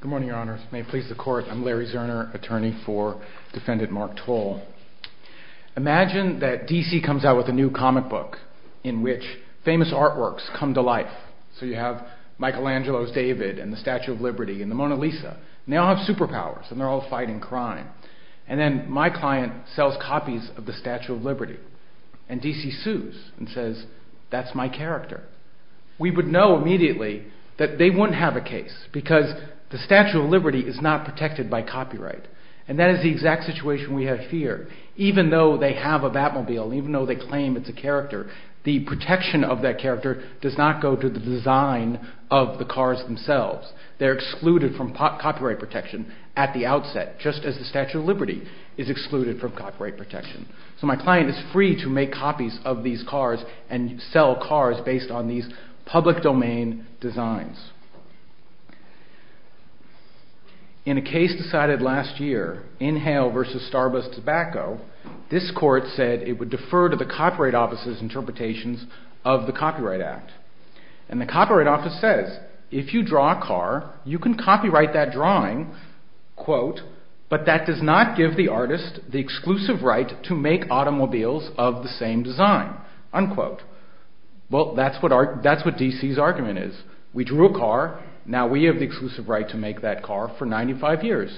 Good morning, your honors. May it please the court, I'm Larry Zerner, attorney for defendant Mark Towle. Imagine that DC comes out with a new comic book in which famous artworks come to life. So you have Michelangelo's David and the Statue of Liberty and the Mona Lisa. And they all have superpowers and they're all fighting crime. And then my client sells copies of the Statue of Liberty and DC sues and says, that's my character. We would know immediately that they wouldn't have a case because the Statue of Liberty is not protected by copyright. And that is the exact situation we have here. Even though they have a Batmobile, even though they claim it's a character, the protection of that character does not go to the design of the cars themselves. They're excluded from copyright protection at the outset, just as the Statue of Liberty is excluded from copyright protection. So my client is free to make copies of these cars and sell cars based on these public domain designs. In a case decided last year, Inhale v. Starbust Tobacco, this court said it would defer to the Copyright Office's interpretations of the Copyright Act. And the Copyright Office says, if you draw a car, you can copyright that drawing, but that does not give the artist the exclusive right to make automobiles of the same design. Well, that's what DC's argument is. We drew a car, now we have the exclusive right to make that car for 95 years.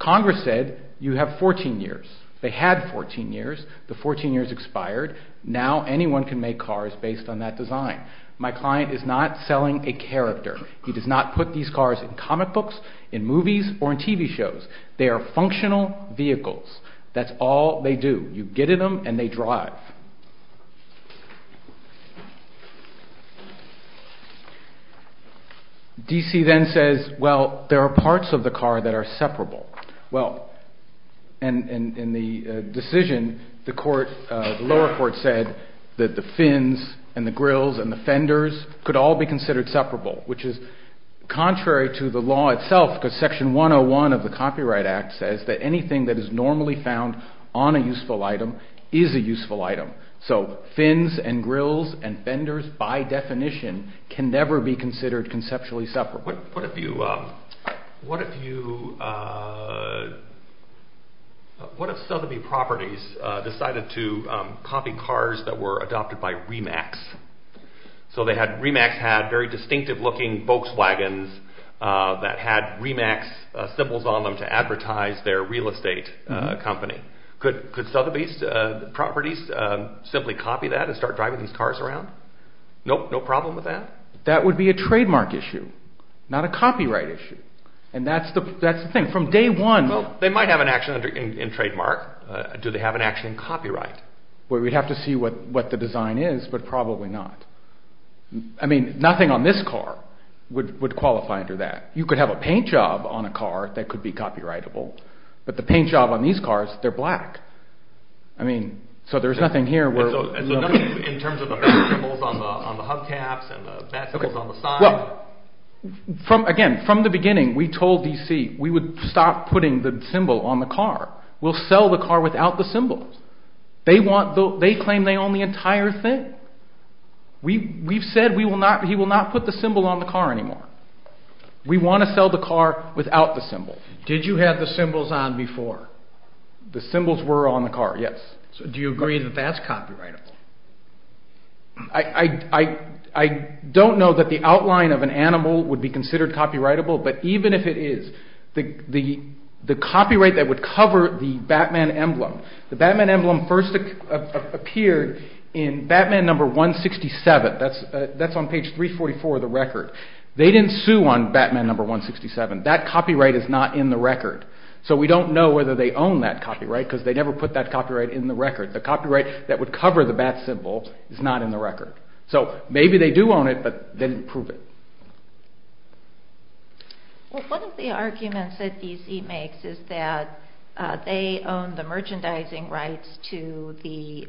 Congress said, you have 14 years. They had 14 years. The 14 years expired. Now anyone can make cars based on that design. My client is not selling a character. He does not put these cars in comic books, in movies, or in TV shows. They are functional vehicles. That's all they do. You get in them and they drive. DC then says, well, there are parts of the car that are separable. Well, in the decision, the lower court said that the fins and the grills and the fenders could all be considered separable, which is contrary to the law itself, because Section 101 of the Copyright Act says that anything that is normally found on a useful item is a useful item. So fins and grills and fenders, by definition, can never be considered conceptually separable. What if Sotheby Properties decided to copy cars that were adopted by Remax? So Remax had very distinctive looking Volkswagens that had Remax symbols on them to advertise their real estate company. Could Sotheby Properties simply copy that and start driving these cars around? Nope, no problem with that. That would be a trademark issue, not a copyright issue. And that's the thing. From day one... Well, they might have an action in trademark. Do they have an action in copyright? Well, we'd have to see what the design is, but probably not. I mean, nothing on this car would qualify under that. You could have a paint job on a car that could be copyrightable, but the paint job on these cars, they're black. I mean, so there's nothing here where... So nothing in terms of the black symbols on the hubcaps and the black symbols on the side? Well, again, from the beginning, we told DC we would stop putting the symbol on the car. We'll sell the car without the symbols. They claim they own the entire thing. We've said he will not put the symbol on the car anymore. We want to sell the car without the symbol. Did you have the symbols on before? The symbols were on the car, yes. Do you agree that that's copyrightable? I don't know that the outline of an animal would be considered copyrightable, but even if it is, the copyright that would cover the Batman emblem... The Batman emblem first appeared in Batman number 167. That's on page 344 of the record. They didn't sue on Batman number 167. That copyright is not in the record. So we don't know whether they own that copyright, because they never put that copyright in the record. The copyright that would cover the bat symbol is not in the record. So maybe they do own it, but they didn't prove it. One of the arguments that DC makes is that they own the merchandising rights to the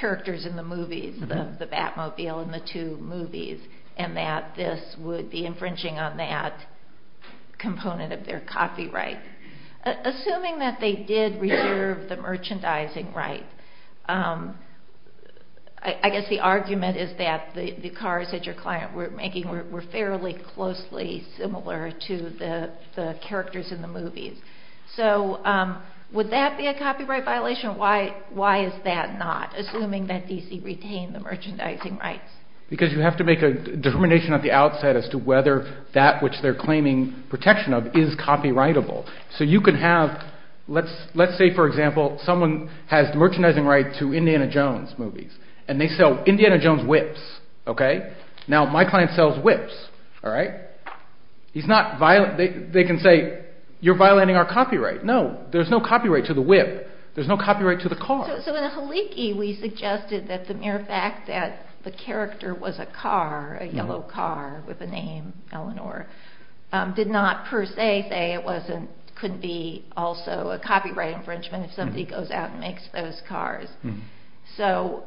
characters in the movies, the Batmobile and the two movies, and that this would be infringing on that component of their copyright. Assuming that they did reserve the merchandising rights, I guess the argument is that the cars that your client were making were fairly closely similar to the characters in the movies. So would that be a copyright violation? Why is that not, assuming that DC retained the merchandising rights? Because you have to make a determination at the outset as to whether that which they're claiming protection of is copyrightable. So you can have, let's say for example, someone has the merchandising right to Indiana Jones movies, and they sell Indiana Jones whips. Now my client sells whips. They can say, you're violating our copyright. No, there's no copyright to the whip. There's no copyright to the car. So in the Heliki we suggested that the mere fact that the character was a car, a yellow car with a name, Eleanor, did not per se say it couldn't be also a copyright infringement if somebody goes out and makes those cars. So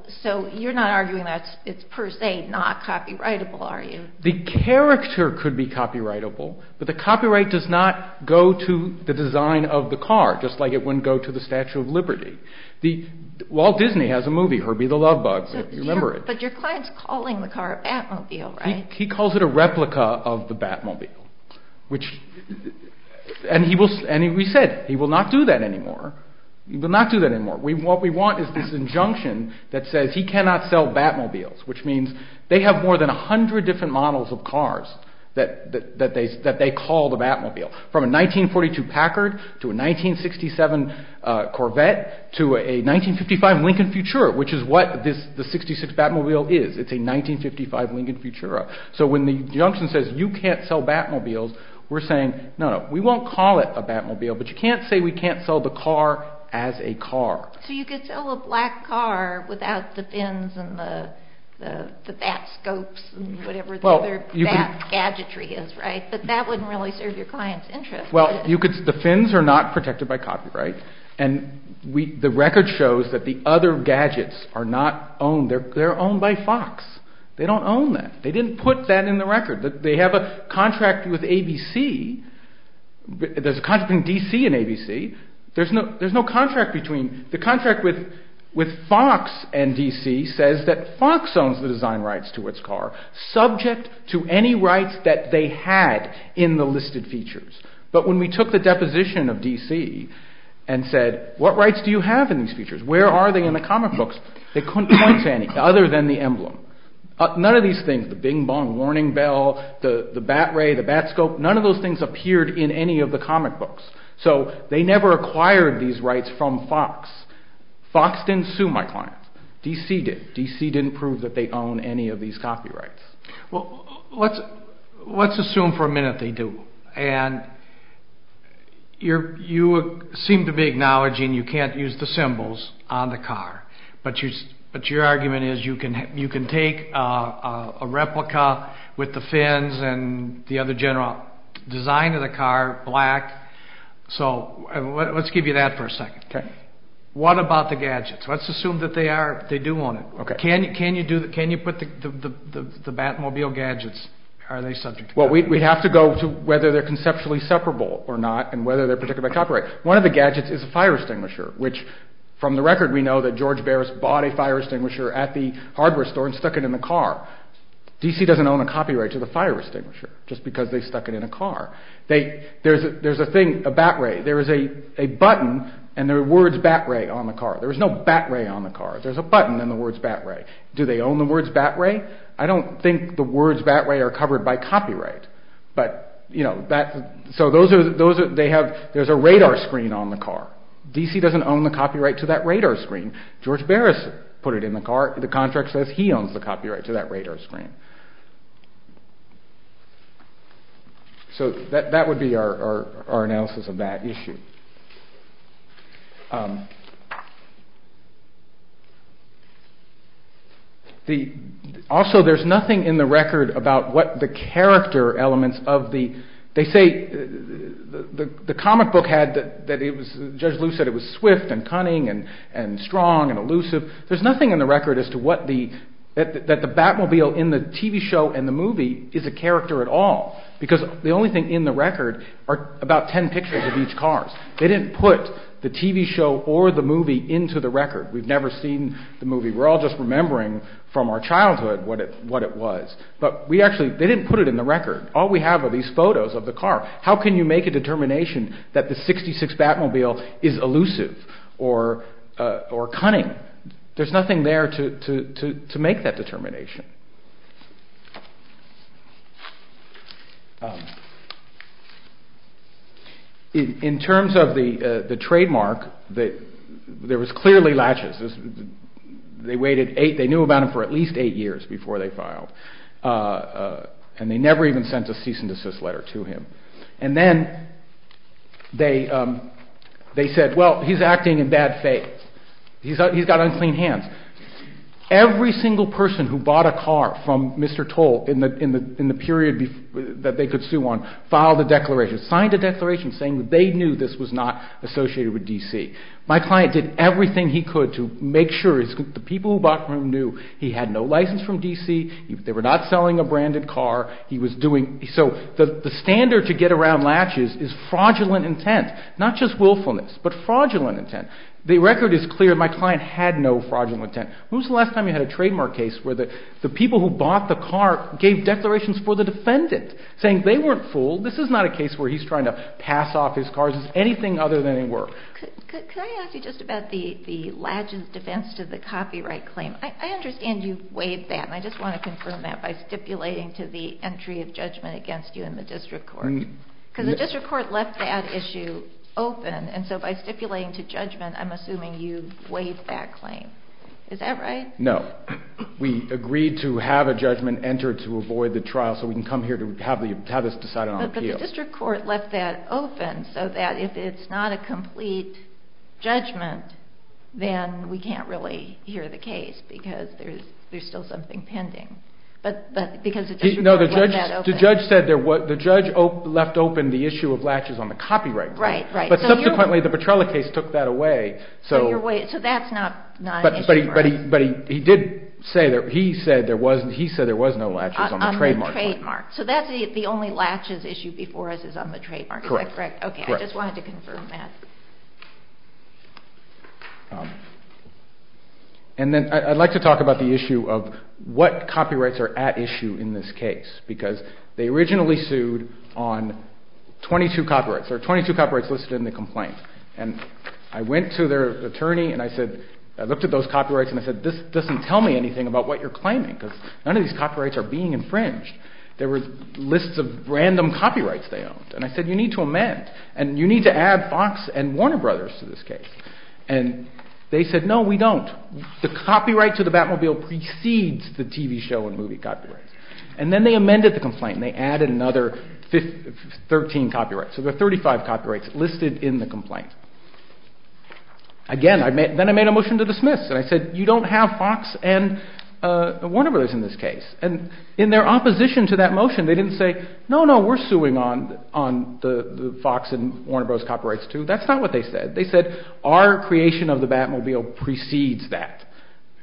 you're not arguing that it's per se not copyrightable, are you? The character could be copyrightable, but the copyright does not go to the design of the car, just like it wouldn't go to the Statue of Liberty. Walt Disney has a movie, Herbie the Love Bug, if you remember it. But your client's calling the car a Batmobile, right? He calls it a replica of the Batmobile, and we said he will not do that anymore. He will not do that anymore. What we want is this injunction that says he cannot sell Batmobiles, which means they have more than 100 different models of cars that they call the Batmobile, from a 1942 Packard to a 1967 Corvette to a 1955 Lincoln Futura, which is what the 66 Batmobile is. It's a 1955 Lincoln Futura. So when the injunction says you can't sell Batmobiles, we're saying, no, no, we won't call it a Batmobile, but you can't say we can't sell the car as a car. So you could sell a black car without the fins and the bat scopes and whatever the other bat gadgetry is, right? But that wouldn't really serve your client's interest. Well, the fins are not protected by copyright, and the record shows that the other gadgets are not owned. They're owned by Fox. They don't own them. They didn't put that in the record. They have a contract with ABC. There's a contract between DC and ABC. There's no contract between. The contract with Fox and DC says that Fox owns the design rights to its car, subject to any rights that they had in the listed features. But when we took the deposition of DC and said, what rights do you have in these features? Where are they in the comic books? They couldn't point to any other than the emblem. None of these things, the bing-bong, warning bell, the bat ray, the bat scope, none of those things appeared in any of the comic books. So they never acquired these rights from Fox. Fox didn't sue my client. DC did. DC didn't prove that they own any of these copyrights. Well, let's assume for a minute they do, and you seem to be acknowledging you can't use the symbols on the car, but your argument is you can take a replica with the fins and the other general design of the car, black. So let's give you that for a second. Okay. What about the gadgets? Let's assume that they do own it. Okay. Can you put the Batmobile gadgets, are they subject to copyright? Well, we'd have to go to whether they're conceptually separable or not and whether they're protected by copyright. One of the gadgets is a fire extinguisher, which from the record we know that George Barris bought a fire extinguisher at the hardware store and stuck it in the car. DC doesn't own a copyright to the fire extinguisher just because they stuck it in a car. There's a thing, a bat ray, there is a button and there are words bat ray on the car. There is no bat ray on the car. There's a button and the words bat ray. Do they own the words bat ray? I don't think the words bat ray are covered by copyright. But, you know, so those are, they have, there's a radar screen on the car. DC doesn't own the copyright to that radar screen. George Barris put it in the car. The contract says he owns the copyright to that radar screen. So that would be our analysis of that issue. Also, there's nothing in the record about what the character elements of the, they say, the comic book had that it was, Judge Lu said it was swift and cunning and strong and elusive. There's nothing in the record as to what the, that the Batmobile in the TV show and the movie is a character at all. Because the only thing in the record are about ten pictures of each car. They didn't put the TV show or the movie into the record. We've never seen the movie. We're all just remembering from our childhood what it was. But we actually, they didn't put it in the record. All we have are these photos of the car. How can you make a determination that the 66 Batmobile is elusive or cunning? There's nothing there to make that determination. In terms of the trademark, there was clearly latches. They waited eight, they knew about it for at least eight years before they filed. And they never even sent a cease and desist letter to him. And then they said, well, he's acting in bad faith. He's got unclean hands. Every single person who bought a car from Mr. Toll in the period that they could sue on filed a declaration, signed a declaration saying that they knew this was not associated with D.C. My client did everything he could to make sure the people who bought from him knew he had no license from D.C. They were not selling a branded car. He was doing, so the standard to get around latches is fraudulent intent. Not just willfulness, but fraudulent intent. The record is clear. My client had no fraudulent intent. When was the last time you had a trademark case where the people who bought the car gave declarations for the defendant saying they weren't fooled. This is not a case where he's trying to pass off his cars as anything other than they were. Could I ask you just about the latches defense to the copyright claim? I understand you waived that. I just want to confirm that by stipulating to the entry of judgment against you in the district court. Because the district court left that issue open, and so by stipulating to judgment, I'm assuming you waived that claim. Is that right? No. We agreed to have a judgment entered to avoid the trial so we can come here to have this decided on appeal. But the district court left that open so that if it's not a complete judgment, then we can't really hear the case because there's still something pending. No, the judge left open the issue of latches on the copyright claim. Right, right. But subsequently, the Petrella case took that away. So that's not an issue. So that's the only latches issue before us is on the trademark. Is that correct? Correct. Okay, I just wanted to confirm that. And then I'd like to talk about the issue of what copyrights are at issue in this case because they originally sued on 22 copyrights. There are 22 copyrights listed in the complaint. And I went to their attorney and I said, I looked at those copyrights and I said, this doesn't tell me anything about what you're claiming because none of these copyrights are being infringed. There were lists of random copyrights they owned. And I said, you need to amend. And you need to add Fox and Warner Brothers to this case. And they said, no, we don't. The copyright to the Batmobile precedes the TV show and movie copyrights. And then they amended the complaint and they added another 13 copyrights. So there are 35 copyrights listed in the complaint. Again, then I made a motion to dismiss and I said, you don't have Fox and Warner Brothers in this case. And in their opposition to that motion, they didn't say, no, no, we're suing on the Fox and Warner Brothers copyrights too. That's not what they said. They said, our creation of the Batmobile precedes that.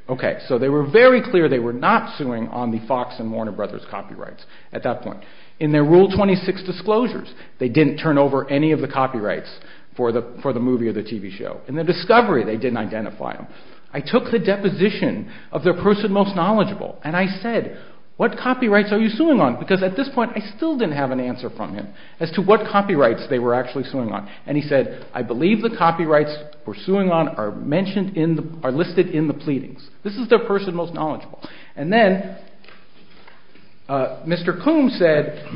Okay, so they were very clear they were not suing on the Fox and Warner Brothers copyrights at that point. In their Rule 26 disclosures, they didn't turn over any of the copyrights for the movie or the TV show. In the discovery, they didn't identify them. I took the deposition of their person most knowledgeable and I said, what copyrights are you suing on? Because at this point, I still didn't have an answer from him as to what copyrights they were actually suing on. And he said, I believe the copyrights we're suing on are mentioned in the, are listed in the pleadings. This is their person most knowledgeable. And then Mr. Coombs said,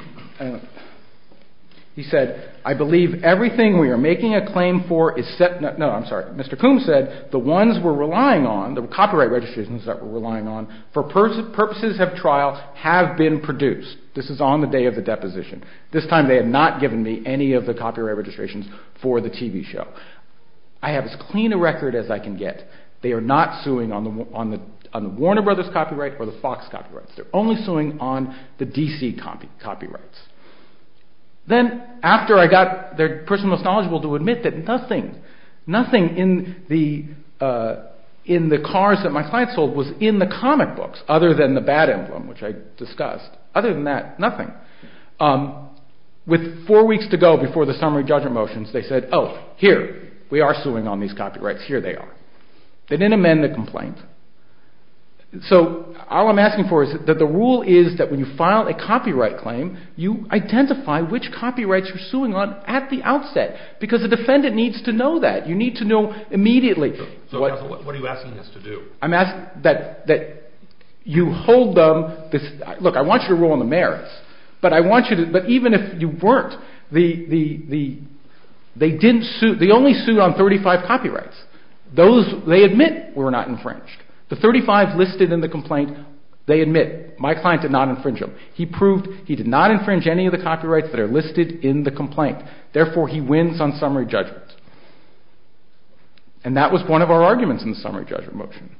he said, I believe everything we are making a claim for is set, no, I'm sorry. Mr. Coombs said, the ones we're relying on, the copyright registrations that we're relying on for purposes of trial have been produced. This is on the day of the deposition. This time they had not given me any of the copyright registrations for the TV show. I have as clean a record as I can get. They are not suing on the Warner Brothers copyright or the Fox copyrights. They're only suing on the DC copyrights. Then after I got their person most knowledgeable to admit that nothing, nothing in the, in the cars that my client sold was in the comic books other than the bad emblem, which I discussed. Other than that, nothing. With four weeks to go before the summary judgment motions, they said, oh, here, we are suing on these copyrights. Here they are. They didn't amend the complaint. So all I'm asking for is that the rule is that when you file a copyright claim, you identify which copyrights you're suing on at the outset, because the defendant needs to know that. You need to know immediately. So what are you asking us to do? I'm asking that, that you hold them, this, look, I want you to rule on the merits, but I want you to, but even if you weren't, the, the, the, they didn't sue, they only sued on 35 copyrights. Those, they admit were not infringed. The 35 listed in the complaint, they admit, my client did not infringe them. He proved he did not infringe any of the copyrights that are listed in the complaint. Therefore, he wins on summary judgment. And that was one of our arguments in the summary judgment motion.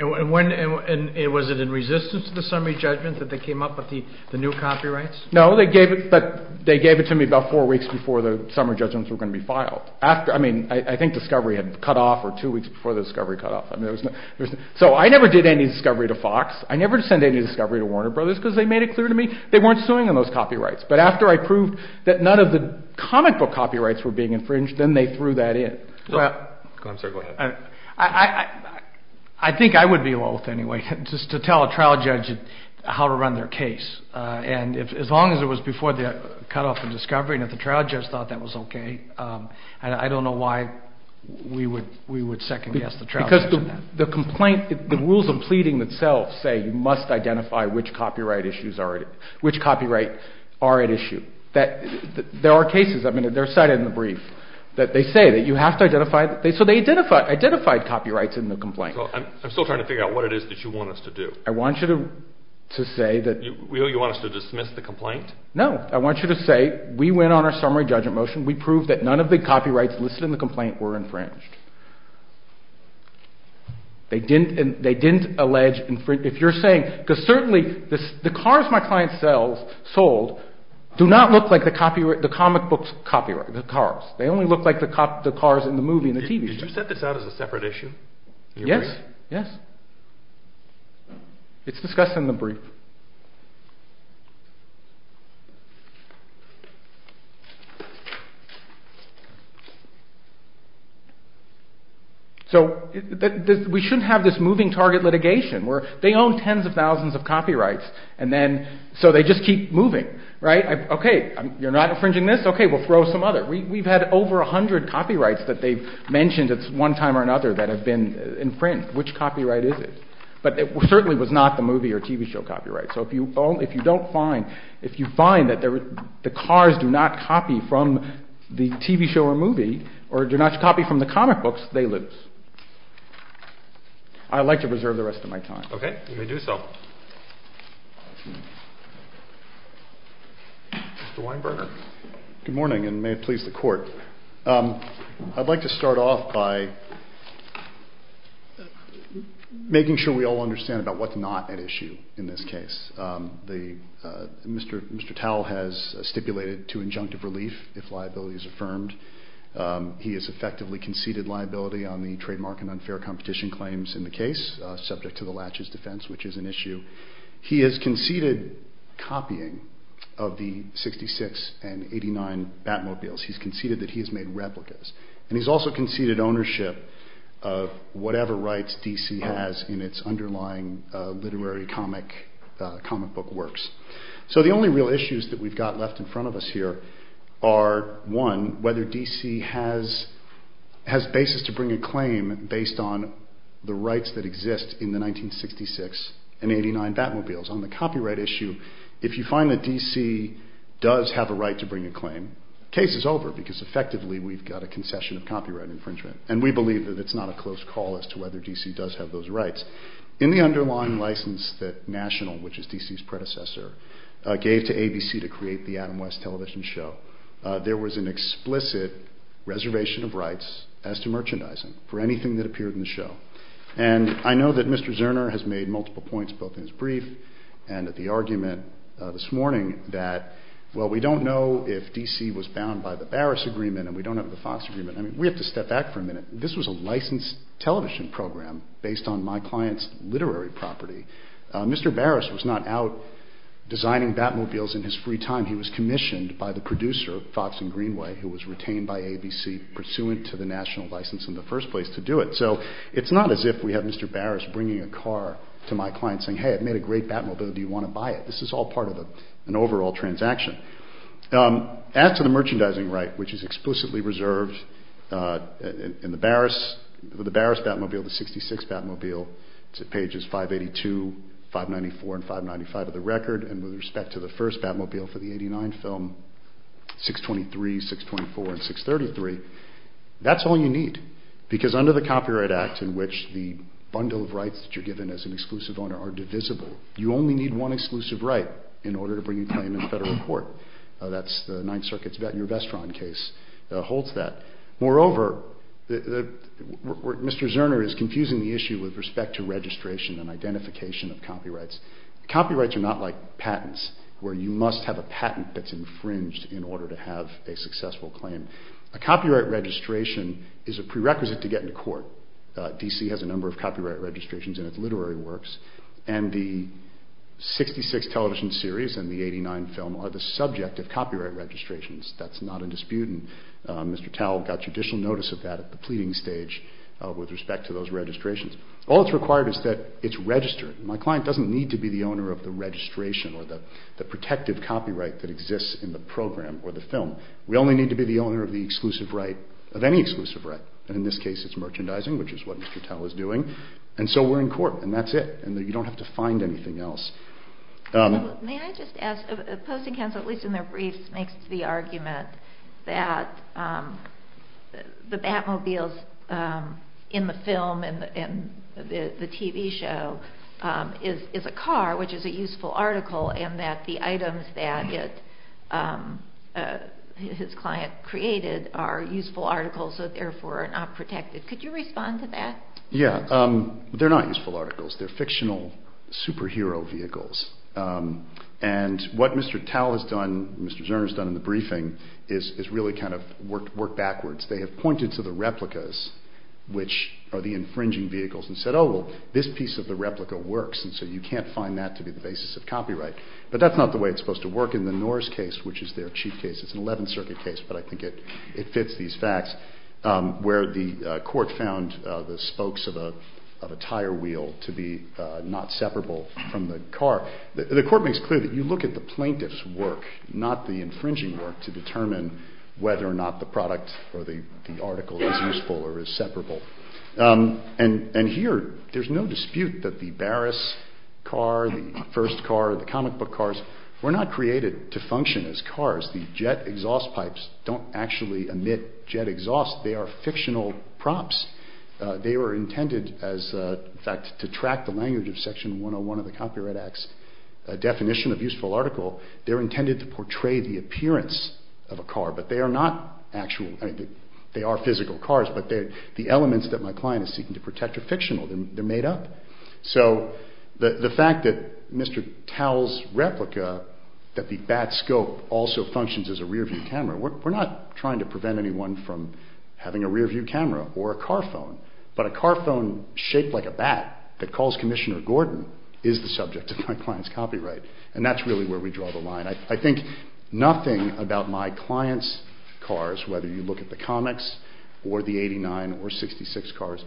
And when, and was it in resistance to the summary judgment that they came up with the, the new copyrights? No, they gave it, but they gave it to me about four weeks before the summary judgments were going to be filed. After, I mean, I think discovery had cut off or two weeks before the discovery cut off. I mean, there was no, there was no, so I never did any discovery to Fox. I never sent any discovery to Warner Brothers because they made it clear to me they weren't suing on those copyrights. But after I proved that none of the comic book copyrights were being infringed, then they threw that in. I'm sorry, go ahead. I, I, I, I think I would be loath anyway, just to tell a trial judge how to run their case. And if, as long as it was before the cutoff and discovery and if the trial judge thought that was okay. And I don't know why we would, we would second guess the trial judge on that. Because the complaint, the rules of pleading itself say you must identify which copyright issues are, which copyright are at issue. There are cases, I mean, they're cited in the brief, that they say that you have to identify, so they identified, identified copyrights in the complaint. I'm still trying to figure out what it is that you want us to do. I want you to, to say that. You want us to dismiss the complaint? No. I want you to say, we went on our summary judgment motion, we proved that none of the copyrights listed in the complaint were infringed. They didn't, they didn't allege infringement. If you're saying, because certainly the cars my client sells, sold, do not look like the copyright, the comic book's copyright, the cars. They only look like the cars in the movie and the TV show. Did you set this out as a separate issue? Yes, yes. It's discussed in the brief. So, we shouldn't have this moving target litigation, where they own tens of thousands of copyrights, and then, so they just keep moving, right? Okay, you're not infringing this? Okay, we'll throw some other. We've had over a hundred copyrights that they've mentioned at one time or another that certainly was not the movie or TV show copyright. So, if you don't find, if you find that the cars do not copy from the TV show or movie, or do not copy from the comic books, they lose. I'd like to preserve the rest of my time. Okay, you may do so. Mr. Weinberger. Good morning, and may it please the court. I'd like to start off by making sure we all understand about what's not at issue in this case. Mr. Towle has stipulated to injunctive relief if liability is affirmed. He has effectively conceded liability on the trademark and unfair competition claims in the case, subject to the latches defense, which is an issue. He has conceded copying of the 66 and 89 Batmobiles. He's conceded that he has made replicas. And he's also conceded ownership of whatever rights DC has in its underlying literary comic book works. So, the only real issues that we've got left in front of us here are, one, whether DC has basis to bring a claim based on the rights that exist in the 1966 and 89 Batmobiles. On the copyright issue, if you find that DC does have a right to bring a claim, the case is over because effectively we've got a concession of copyright infringement. And we believe that it's not a close call as to whether DC does have those rights. In the underlying license that National, which is DC's predecessor, gave to ABC to create the Adam West television show, there was an explicit reservation of rights as to merchandising for anything that appeared in the show. And I know that Mr. Zerner has made multiple points, both in his brief and at the argument this morning, that, well, we don't know if DC was bound by the Barris Agreement and we don't have the Fox Agreement. I mean, we have to step back for a minute. This was a licensed television program based on my client's literary property. Mr. Barris was not out designing Batmobiles in his free time. He was commissioned by the producer, Fox and Greenway, who was retained by ABC pursuant to the National license in the first place to do it. So it's not as if we have Mr. Barris bringing a car to my client saying, hey, I've made a great Batmobile, do you want to buy it? This is all part of an overall transaction. As to the merchandising right, which is explicitly reserved in the Barris Batmobile, the 66 Batmobile, it's at pages 582, 594, and 595 of the record. And with respect to the first Batmobile for the 89 film, 623, 624, and 633, that's all you need. Because under the Copyright Act, in which the bundle of rights that you're given as an exclusive owner are divisible, you only need one exclusive right in order to bring a claim in federal court. That's the Ninth Circuit's Vettner-Vestron case that holds that. Moreover, Mr. Zerner is confusing the issue with respect to registration and identification of copyrights. Copyrights are not like patents, where you must have a patent that's infringed in order to have a successful claim. A copyright registration is a prerequisite to get into court. DC has a number of copyright registrations in its literary works, and the 66 television series and the 89 film are the subject of copyright registrations. That's not in dispute, and Mr. Tell got judicial notice of that at the pleading stage with respect to those registrations. All that's required is that it's registered. My client doesn't need to be the owner of the registration or the protective copyright that exists in the program or the film. We only need to be the owner of the exclusive right, of any exclusive right, and in this case it's merchandising, which is what Mr. Tell is doing, and so we're in court, and that's it, and you don't have to find anything else. May I just ask, Posting Council, at least in their briefs, makes the argument that the Batmobiles in the film and the TV show is a car, which is a useful article, and that the items that his client created are useful articles that therefore are not protected. Could you respond to that? Yeah, they're not useful articles. They're fictional superhero vehicles, and what Mr. Tell has done, Mr. Zerner has done in the briefing, is really kind of work backwards. They have pointed to the replicas, which are the infringing vehicles, and said, oh, well, this piece of the replica works, and so you can't find that to be the basis of copyright, but that's not the way it's supposed to work in the Norris case, which is their chief case. It's an 11th Circuit case, but I think it fits these facts, where the court found the spokes of a tire wheel to be not separable from the car. The court makes clear that you look at the plaintiff's work, not the infringing work, to determine whether or not the product or the article is useful or is separable, and here there's no dispute that the Barris car, the first car, the comic book cars, were not created to function as cars. The jet exhaust pipes don't actually emit jet exhaust. They are fictional props. They were intended, in fact, to track the language of Section 101 of the Copyright Act's definition of useful article. They're intended to portray the appearance of a car, but they are not actual. They are physical cars, but the elements that my client is seeking to protect are fictional. They're made up. So the fact that Mr. Towle's replica, that the bat scope also functions as a rear-view camera, we're not trying to prevent anyone from having a rear-view camera or a car phone, but a car phone shaped like a bat that calls Commissioner Gordon is the subject of my client's copyright, and that's really where we draw the line. I think nothing about my client's cars, whether you look at the comics or the 89 or 66 cars,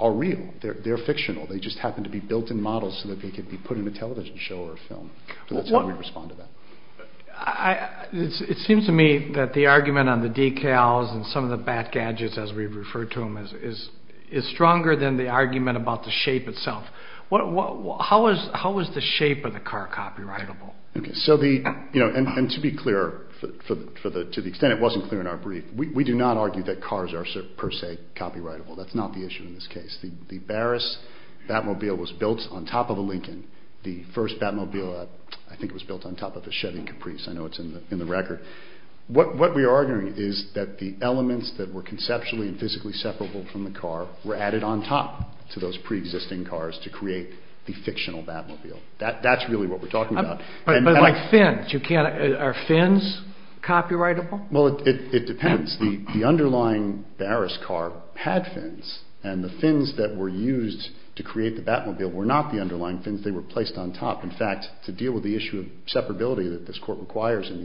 are real. They're fictional. They just happen to be built-in models so that they could be put in a television show or a film. That's how we respond to that. It seems to me that the argument on the decals and some of the bat gadgets, as we've referred to them, is stronger than the argument about the shape itself. How is the shape of the car copyrightable? To be clear, to the extent it wasn't clear in our brief, we do not argue that cars are per se copyrightable. That's not the issue in this case. The Barris Batmobile was built on top of a Lincoln. The first Batmobile, I think it was built on top of a Chevy Caprice. I know it's in the record. What we are arguing is that the elements that were conceptually and physically separable from the car were added on top to those preexisting cars to create the fictional Batmobile. That's really what we're talking about. Are fins copyrightable? It depends. The underlying Barris car had fins. The fins that were used to create the Batmobile were not the underlying fins. They were placed on top. In fact, to deal with the issue of separability that this court requires in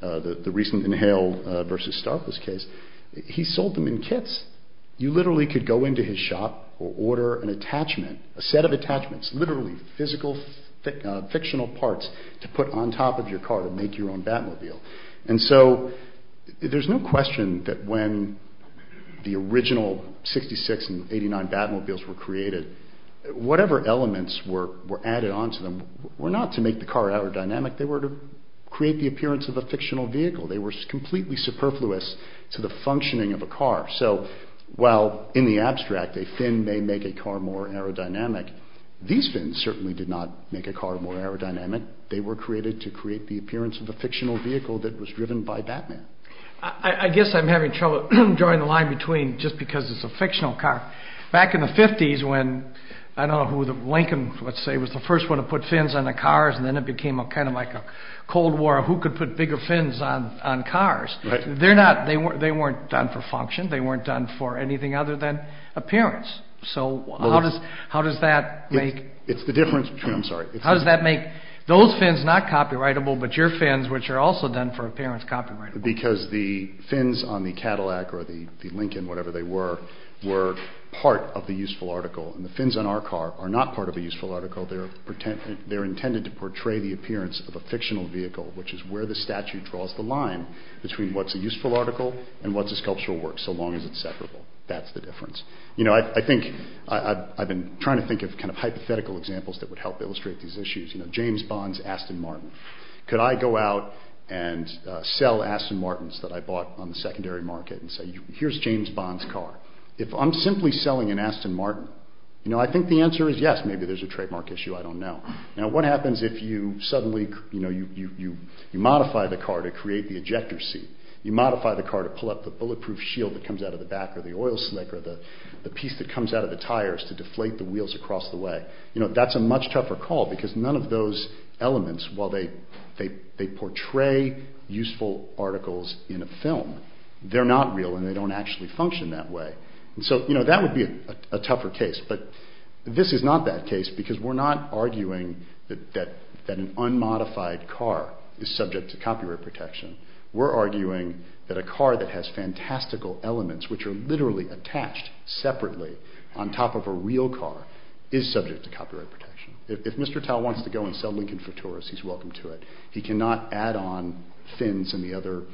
the recent Inhale v. Starpless case, he sold them in kits. You literally could go into his shop or order an attachment, a set of attachments, literally physical fictional parts to put on top of your car to make your own Batmobile. And so there's no question that when the original 66 and 89 Batmobiles were created, whatever elements were added onto them were not to make the car aerodynamic. They were to create the appearance of a fictional vehicle. They were completely superfluous to the functioning of a car. So while in the abstract a fin may make a car more aerodynamic, these fins certainly did not make a car more aerodynamic. They were created to create the appearance of a fictional vehicle that was driven by Batman. I guess I'm having trouble drawing the line between just because it's a fictional car. Back in the 50s when, I don't know who, Lincoln, let's say, was the first one to put fins on the cars, and then it became kind of like a Cold War of who could put bigger fins on cars. They weren't done for function. They weren't done for anything other than appearance. So how does that make those fins not copyrightable, but your fins, which are also done for appearance, copyrightable? Because the fins on the Cadillac or the Lincoln, whatever they were, were part of the useful article, and the fins on our car are not part of the useful article. They're intended to portray the appearance of a fictional vehicle, which is where the statute draws the line between what's a useful article and what's a sculptural work, so long as it's separable. That's the difference. I've been trying to think of hypothetical examples that would help illustrate these issues. James Bond's Aston Martin. Could I go out and sell Aston Martins that I bought on the secondary market and say, here's James Bond's car. If I'm simply selling an Aston Martin, I think the answer is yes. Maybe there's a trademark issue. I don't know. Now, what happens if you modify the car to create the ejector seat? You modify the car to pull up the bulletproof shield that comes out of the back, or the oil slick, or the piece that comes out of the tires to deflate the wheels across the way. That's a much tougher call because none of those elements, while they portray useful articles in a film, they're not real and they don't actually function that way. So that would be a tougher case. But this is not that case because we're not arguing that an unmodified car is subject to copyright protection. We're arguing that a car that has fantastical elements, which are literally attached separately on top of a real car, is subject to copyright protection. If Mr. Tao wants to go and sell Lincoln Futuras, he's welcome to it. He cannot add on fins and the other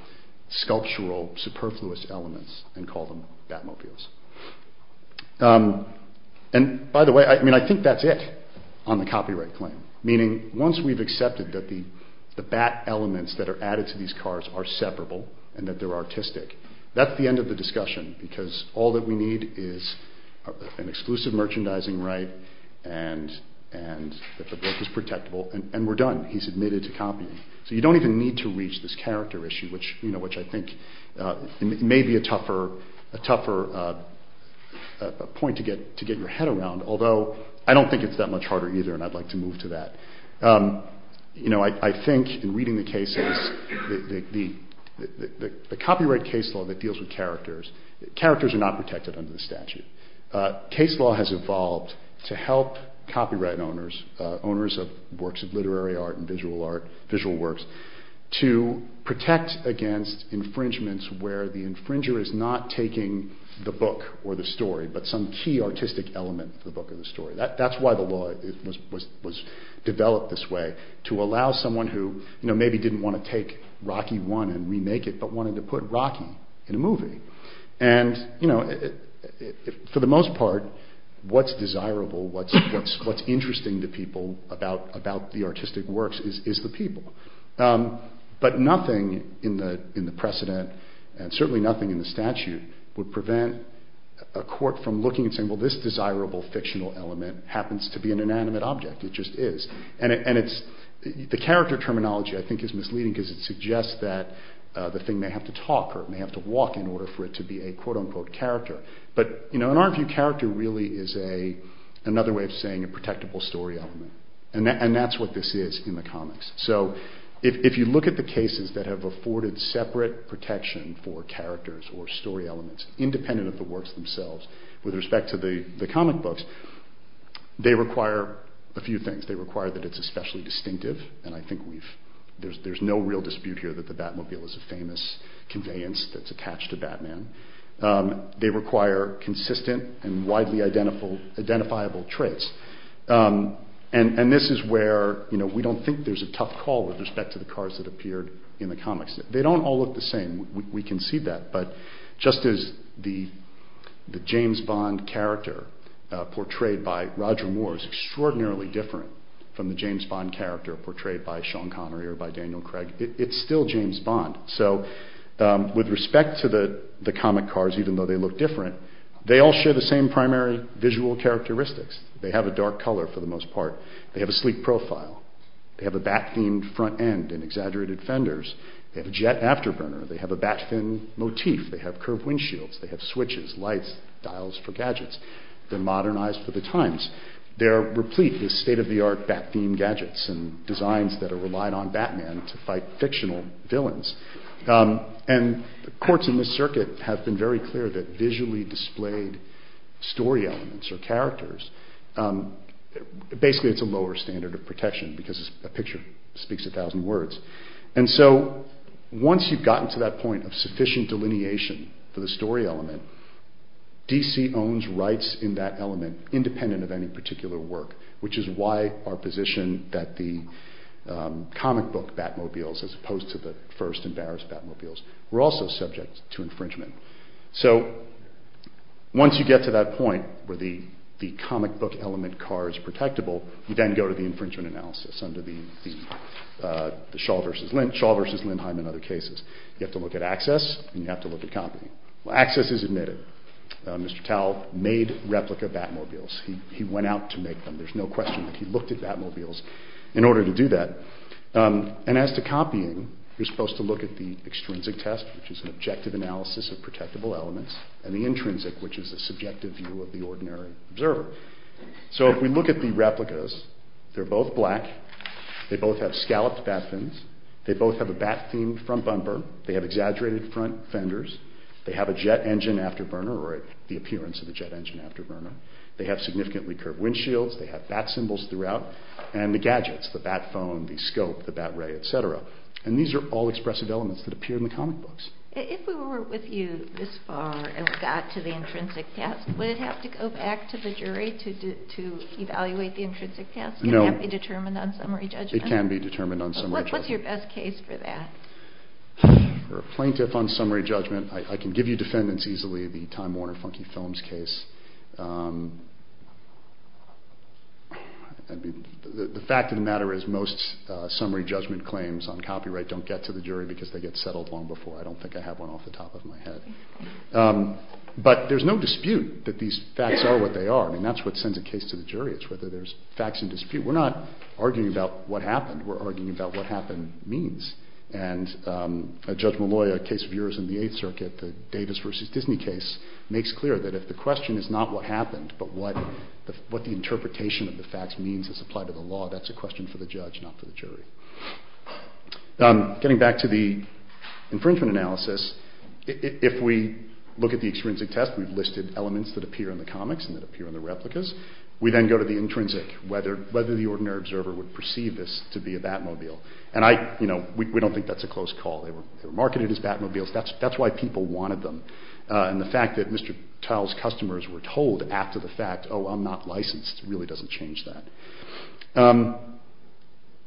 sculptural superfluous elements and call them Batmobiles. And, by the way, I think that's it on the copyright claim. Meaning, once we've accepted that the Bat elements that are added to these cars are separable, and that they're artistic, that's the end of the discussion because all that we need is an exclusive merchandising right, and that the book is protectable, and we're done. He's admitted to copying. So you don't even need to reach this character issue, which I think may be a tougher point to get your head around, although I don't think it's that much harder either, and I'd like to move to that. I think, in reading the cases, the copyright case law that deals with characters, characters are not protected under the statute. Case law has evolved to help copyright owners, owners of works of literary art and visual works, to protect against infringements where the infringer is not taking the book or the story, but some key artistic element of the book or the story. That's why the law was developed this way, to allow someone who maybe didn't want to take Rocky I and remake it, but wanted to put Rocky in a movie. And, for the most part, what's desirable, what's interesting to people about the artistic works is the people. But nothing in the precedent, and certainly nothing in the statute, would prevent a court from looking and saying, well, this desirable fictional element happens to be an inanimate object. It just is. And the character terminology, I think, is misleading, because it suggests that the thing may have to talk, or it may have to walk in order for it to be a quote-unquote character. But, in our view, character really is another way of saying a protectable story element. And that's what this is in the comics. So, if you look at the cases that have afforded separate protection for characters or story elements, independent of the works themselves, with respect to the comic books, they require a few things. They require that it's especially distinctive, and I think there's no real dispute here that the Batmobile is a famous conveyance that's attached to Batman. They require consistent and widely identifiable traits. And this is where we don't think there's a tough call with respect to the cars that appeared in the comics. They don't all look the same. We can see that. But just as the James Bond character portrayed by Roger Moore is extraordinarily different from the James Bond character portrayed by Sean Connery or by Daniel Craig, it's still James Bond. So, with respect to the comic cars, even though they look different, they all share the same primary visual characteristics. They have a dark color, for the most part. They have a sleek profile. They have a bat-themed front end and exaggerated fenders. They have a jet afterburner. They have a bat-thin motif. They have curved windshields. They have switches, lights, dials for gadgets. They're modernized for the times. They're replete with state-of-the-art bat-themed gadgets and designs that are relied on Batman to fight fictional villains. And the courts in this circuit have been very clear that visually displayed story elements or characters, basically it's a lower standard of protection because a picture speaks a thousand words. And so, once you've gotten to that point of sufficient delineation for the story element, DC owns rights in that element independent of any particular work, which is why our position that the comic book Batmobiles, as opposed to the first embarrassed Batmobiles, were also subject to infringement. So, once you get to that point where the comic book element car is protectable, you then go to the infringement analysis under the Shaw versus Lindheim and other cases. You have to look at access and you have to look at copy. Well, access is admitted. Mr. Tal made replica Batmobiles. He went out to make them. There's no question that he looked at Batmobiles in order to do that. And as to copying, you're supposed to look at the extrinsic test, which is an objective analysis of protectable elements, and the intrinsic, which is a subjective view of the ordinary observer. So, if we look at the replicas, they're both black. They both have scalloped bat fins. They both have a bat-themed front bumper. They have exaggerated front fenders. They have a jet engine afterburner or the appearance of a jet engine afterburner. They have significantly curved windshields. They have bat symbols throughout. And the gadgets, the bat phone, the scope, the bat ray, et cetera. And these are all expressive elements that appear in the comic books. If we were with you this far and got to the intrinsic test, would it have to go back to the jury to evaluate the intrinsic test? No. Can that be determined on summary judgment? It can be determined on summary judgment. What's your best case for that? For a plaintiff on summary judgment, I can give you defendants easily, the Time Warner Funky Films case. The fact of the matter is most summary judgment claims on copyright don't get to the jury because they get settled long before. I don't think I have one off the top of my head. But there's no dispute that these facts are what they are. I mean, that's what sends a case to the jury. It's whether there's facts in dispute. We're not arguing about what happened. We're arguing about what happened means. And Judge Malloy, a case of yours in the Eighth Circuit, the Davis v. Disney case, makes clear that if the question is not what happened but what the interpretation of the facts means as applied to the law, that's a question for the judge, not for the jury. Getting back to the infringement analysis, if we look at the extrinsic test, we've listed elements that appear in the comics and that appear in the replicas. We then go to the intrinsic, whether the ordinary observer would perceive this to be a Batmobile. And we don't think that's a close call. They were marketed as Batmobiles. That's why people wanted them. And the fact that Mr. Tile's customers were told after the fact, oh, I'm not licensed, really doesn't change that.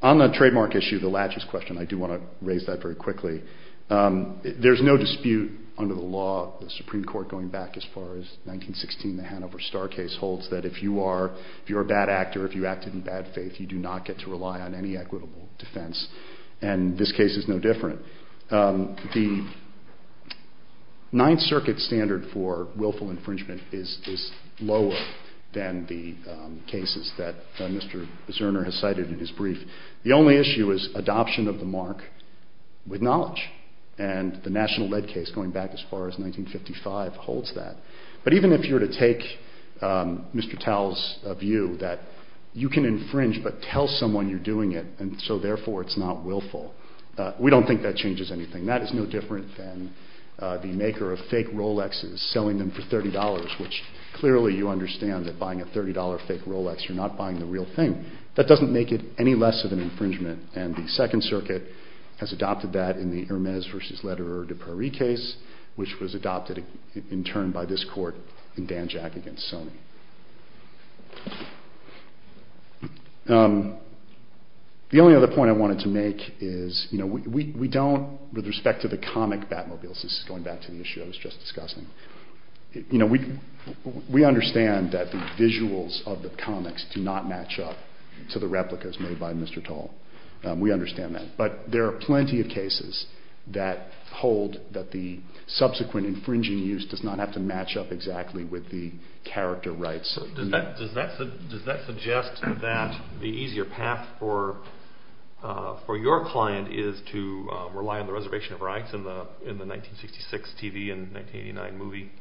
On the trademark issue, the latches question, I do want to raise that very quickly. There's no dispute under the law, the Supreme Court going back as far as 1916, the Hanover Star case holds that if you are a bad actor, if you acted in bad faith, you do not get to rely on any equitable defense. And this case is no different. The Ninth Circuit standard for willful infringement is lower than the cases that Mr. Zerner has cited in his brief. The only issue is adoption of the mark with knowledge. And the National Lead case, going back as far as 1955, holds that. But even if you were to take Mr. Tile's view that you can infringe but tell someone you're doing it, and so therefore it's not willful, we don't think that changes anything. That is no different than the maker of fake Rolexes, selling them for $30, which clearly you understand that buying a $30 fake Rolex, you're not buying the real thing. That doesn't make it any less of an infringement. And the Second Circuit has adopted that in the Hermes v. Lederer de Prairie case, which was adopted in turn by this court in Dan Jack v. Sony. The only other point I wanted to make is, with respect to the comic Batmobiles, this is going back to the issue I was just discussing, we understand that the visuals of the comics do not match up to the replicas made by Mr. Tile. We understand that. But there are plenty of cases that hold that the subsequent infringing use does not have to match up exactly with the character rights. Does that suggest that the easier path for your client is to rely on the reservation of rights in the 1966 TV and 1989 movie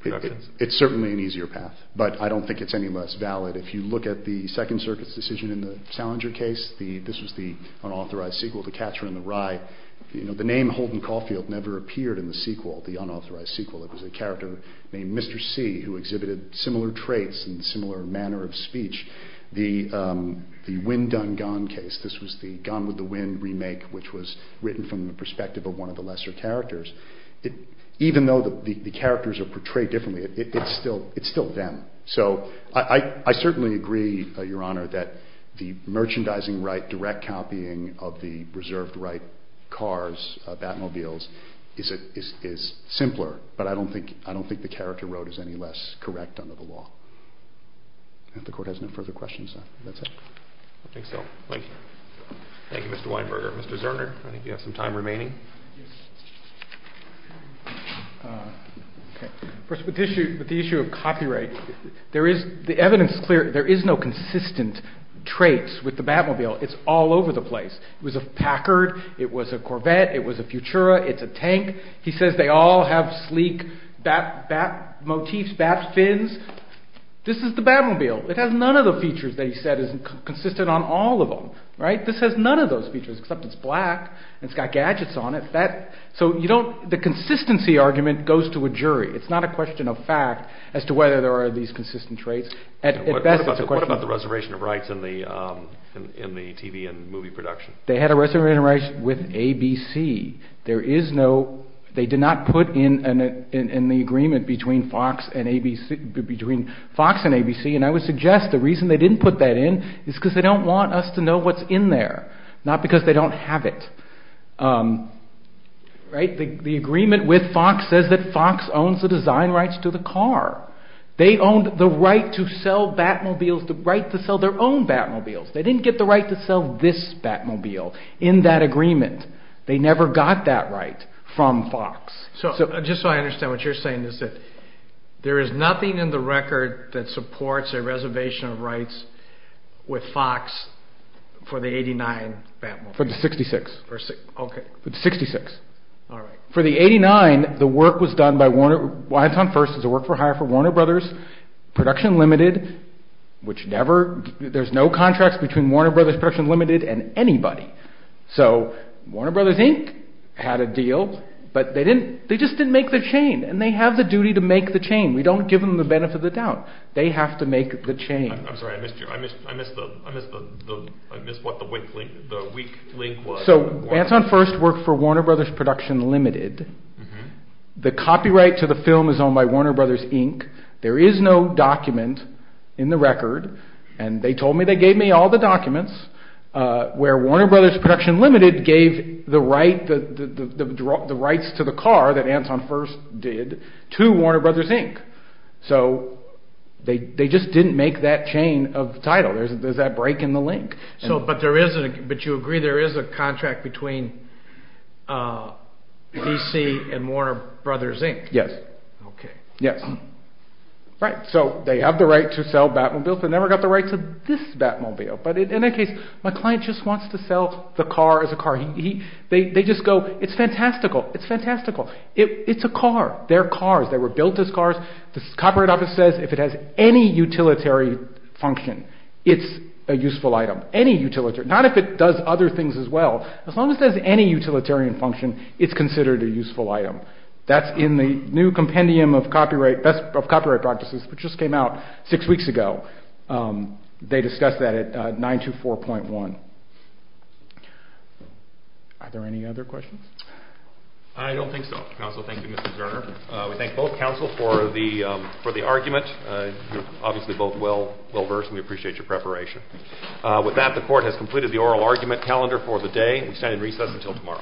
productions? It's certainly an easier path, but I don't think it's any less valid. If you look at the Second Circuit's decision in the Salinger case, this was the unauthorized sequel to Catcher in the Rye. The name Holden Caulfield never appeared in the sequel, the unauthorized sequel. It was a character named Mr. C. who exhibited similar traits and similar manner of speech. The Win Done Gone case, this was the Gone with the Wind remake, which was written from the perspective of one of the lesser characters. Even though the characters are portrayed differently, it's still them. So I certainly agree, Your Honor, that the merchandising right, direct copying of the reserved right cars, Batmobiles, is simpler, but I don't think the character road is any less correct under the law. If the Court has no further questions, that's it. I think so. Thank you. Thank you, Mr. Weinberger. Mr. Zerner, I think you have some time remaining. First, with the issue of copyright, the evidence is clear. There is no consistent traits with the Batmobile. It's all over the place. It was a Packard. It was a Corvette. It was a Futura. It's a tank. He says they all have sleek Bat motifs, Bat fins. This is the Batmobile. It has none of the features that he said is consistent on all of them. This has none of those features, except it's black and it's got gadgets on it. So the consistency argument goes to a jury. It's not a question of fact as to whether there are these consistent traits. What about the reservation of rights in the TV and movie production? They had a reservation of rights with ABC. They did not put in the agreement between Fox and ABC, and I would suggest the reason they didn't put that in is because they don't want us to know what's in there, not because they don't have it. The agreement with Fox says that Fox owns the design rights to the car. They owned the right to sell Batmobiles, the right to sell their own Batmobiles. They didn't get the right to sell this Batmobile in that agreement. They never got that right from Fox. So just so I understand what you're saying is that there is nothing in the record that supports a reservation of rights with Fox for the 89 Batmobile. For the 66. Okay. For the 66. All right. For the 89, the work was done by Warner. Anton First is a work for hire for Warner Brothers Production Limited, which there's no contracts between Warner Brothers Production Limited and anybody. So Warner Brothers Inc. had a deal, but they just didn't make the chain, and they have the duty to make the chain. We don't give them the benefit of the doubt. They have to make the chain. I'm sorry. I missed what the weak link was. So Anton First worked for Warner Brothers Production Limited. The copyright to the film is owned by Warner Brothers Inc. There is no document in the record, and they told me they gave me all the documents where Warner Brothers Production Limited gave the rights to the car that Anton First did to Warner Brothers Inc. So they just didn't make that chain of title. There's that break in the link. But you agree there is a contract between V.C. and Warner Brothers Inc.? Yes. Okay. Yes. Right. So they have the right to sell Batmobiles. They never got the right to this Batmobile. But in that case, my client just wants to sell the car as a car. They just go, it's fantastical. It's fantastical. It's a car. They're cars. They were built as cars. The copyright office says if it has any utilitary function, it's a useful item. Not if it does other things as well. As long as it has any utilitarian function, it's considered a useful item. That's in the new compendium of copyright practices, which just came out six weeks ago. They discussed that at 924.1. Are there any other questions? I don't think so. Counsel, thank you, Mr. Zerner. We thank both counsel for the argument. You're obviously both well versed, and we appreciate your preparation. With that, the court has completed the oral argument calendar for the day. We stand in recess until tomorrow.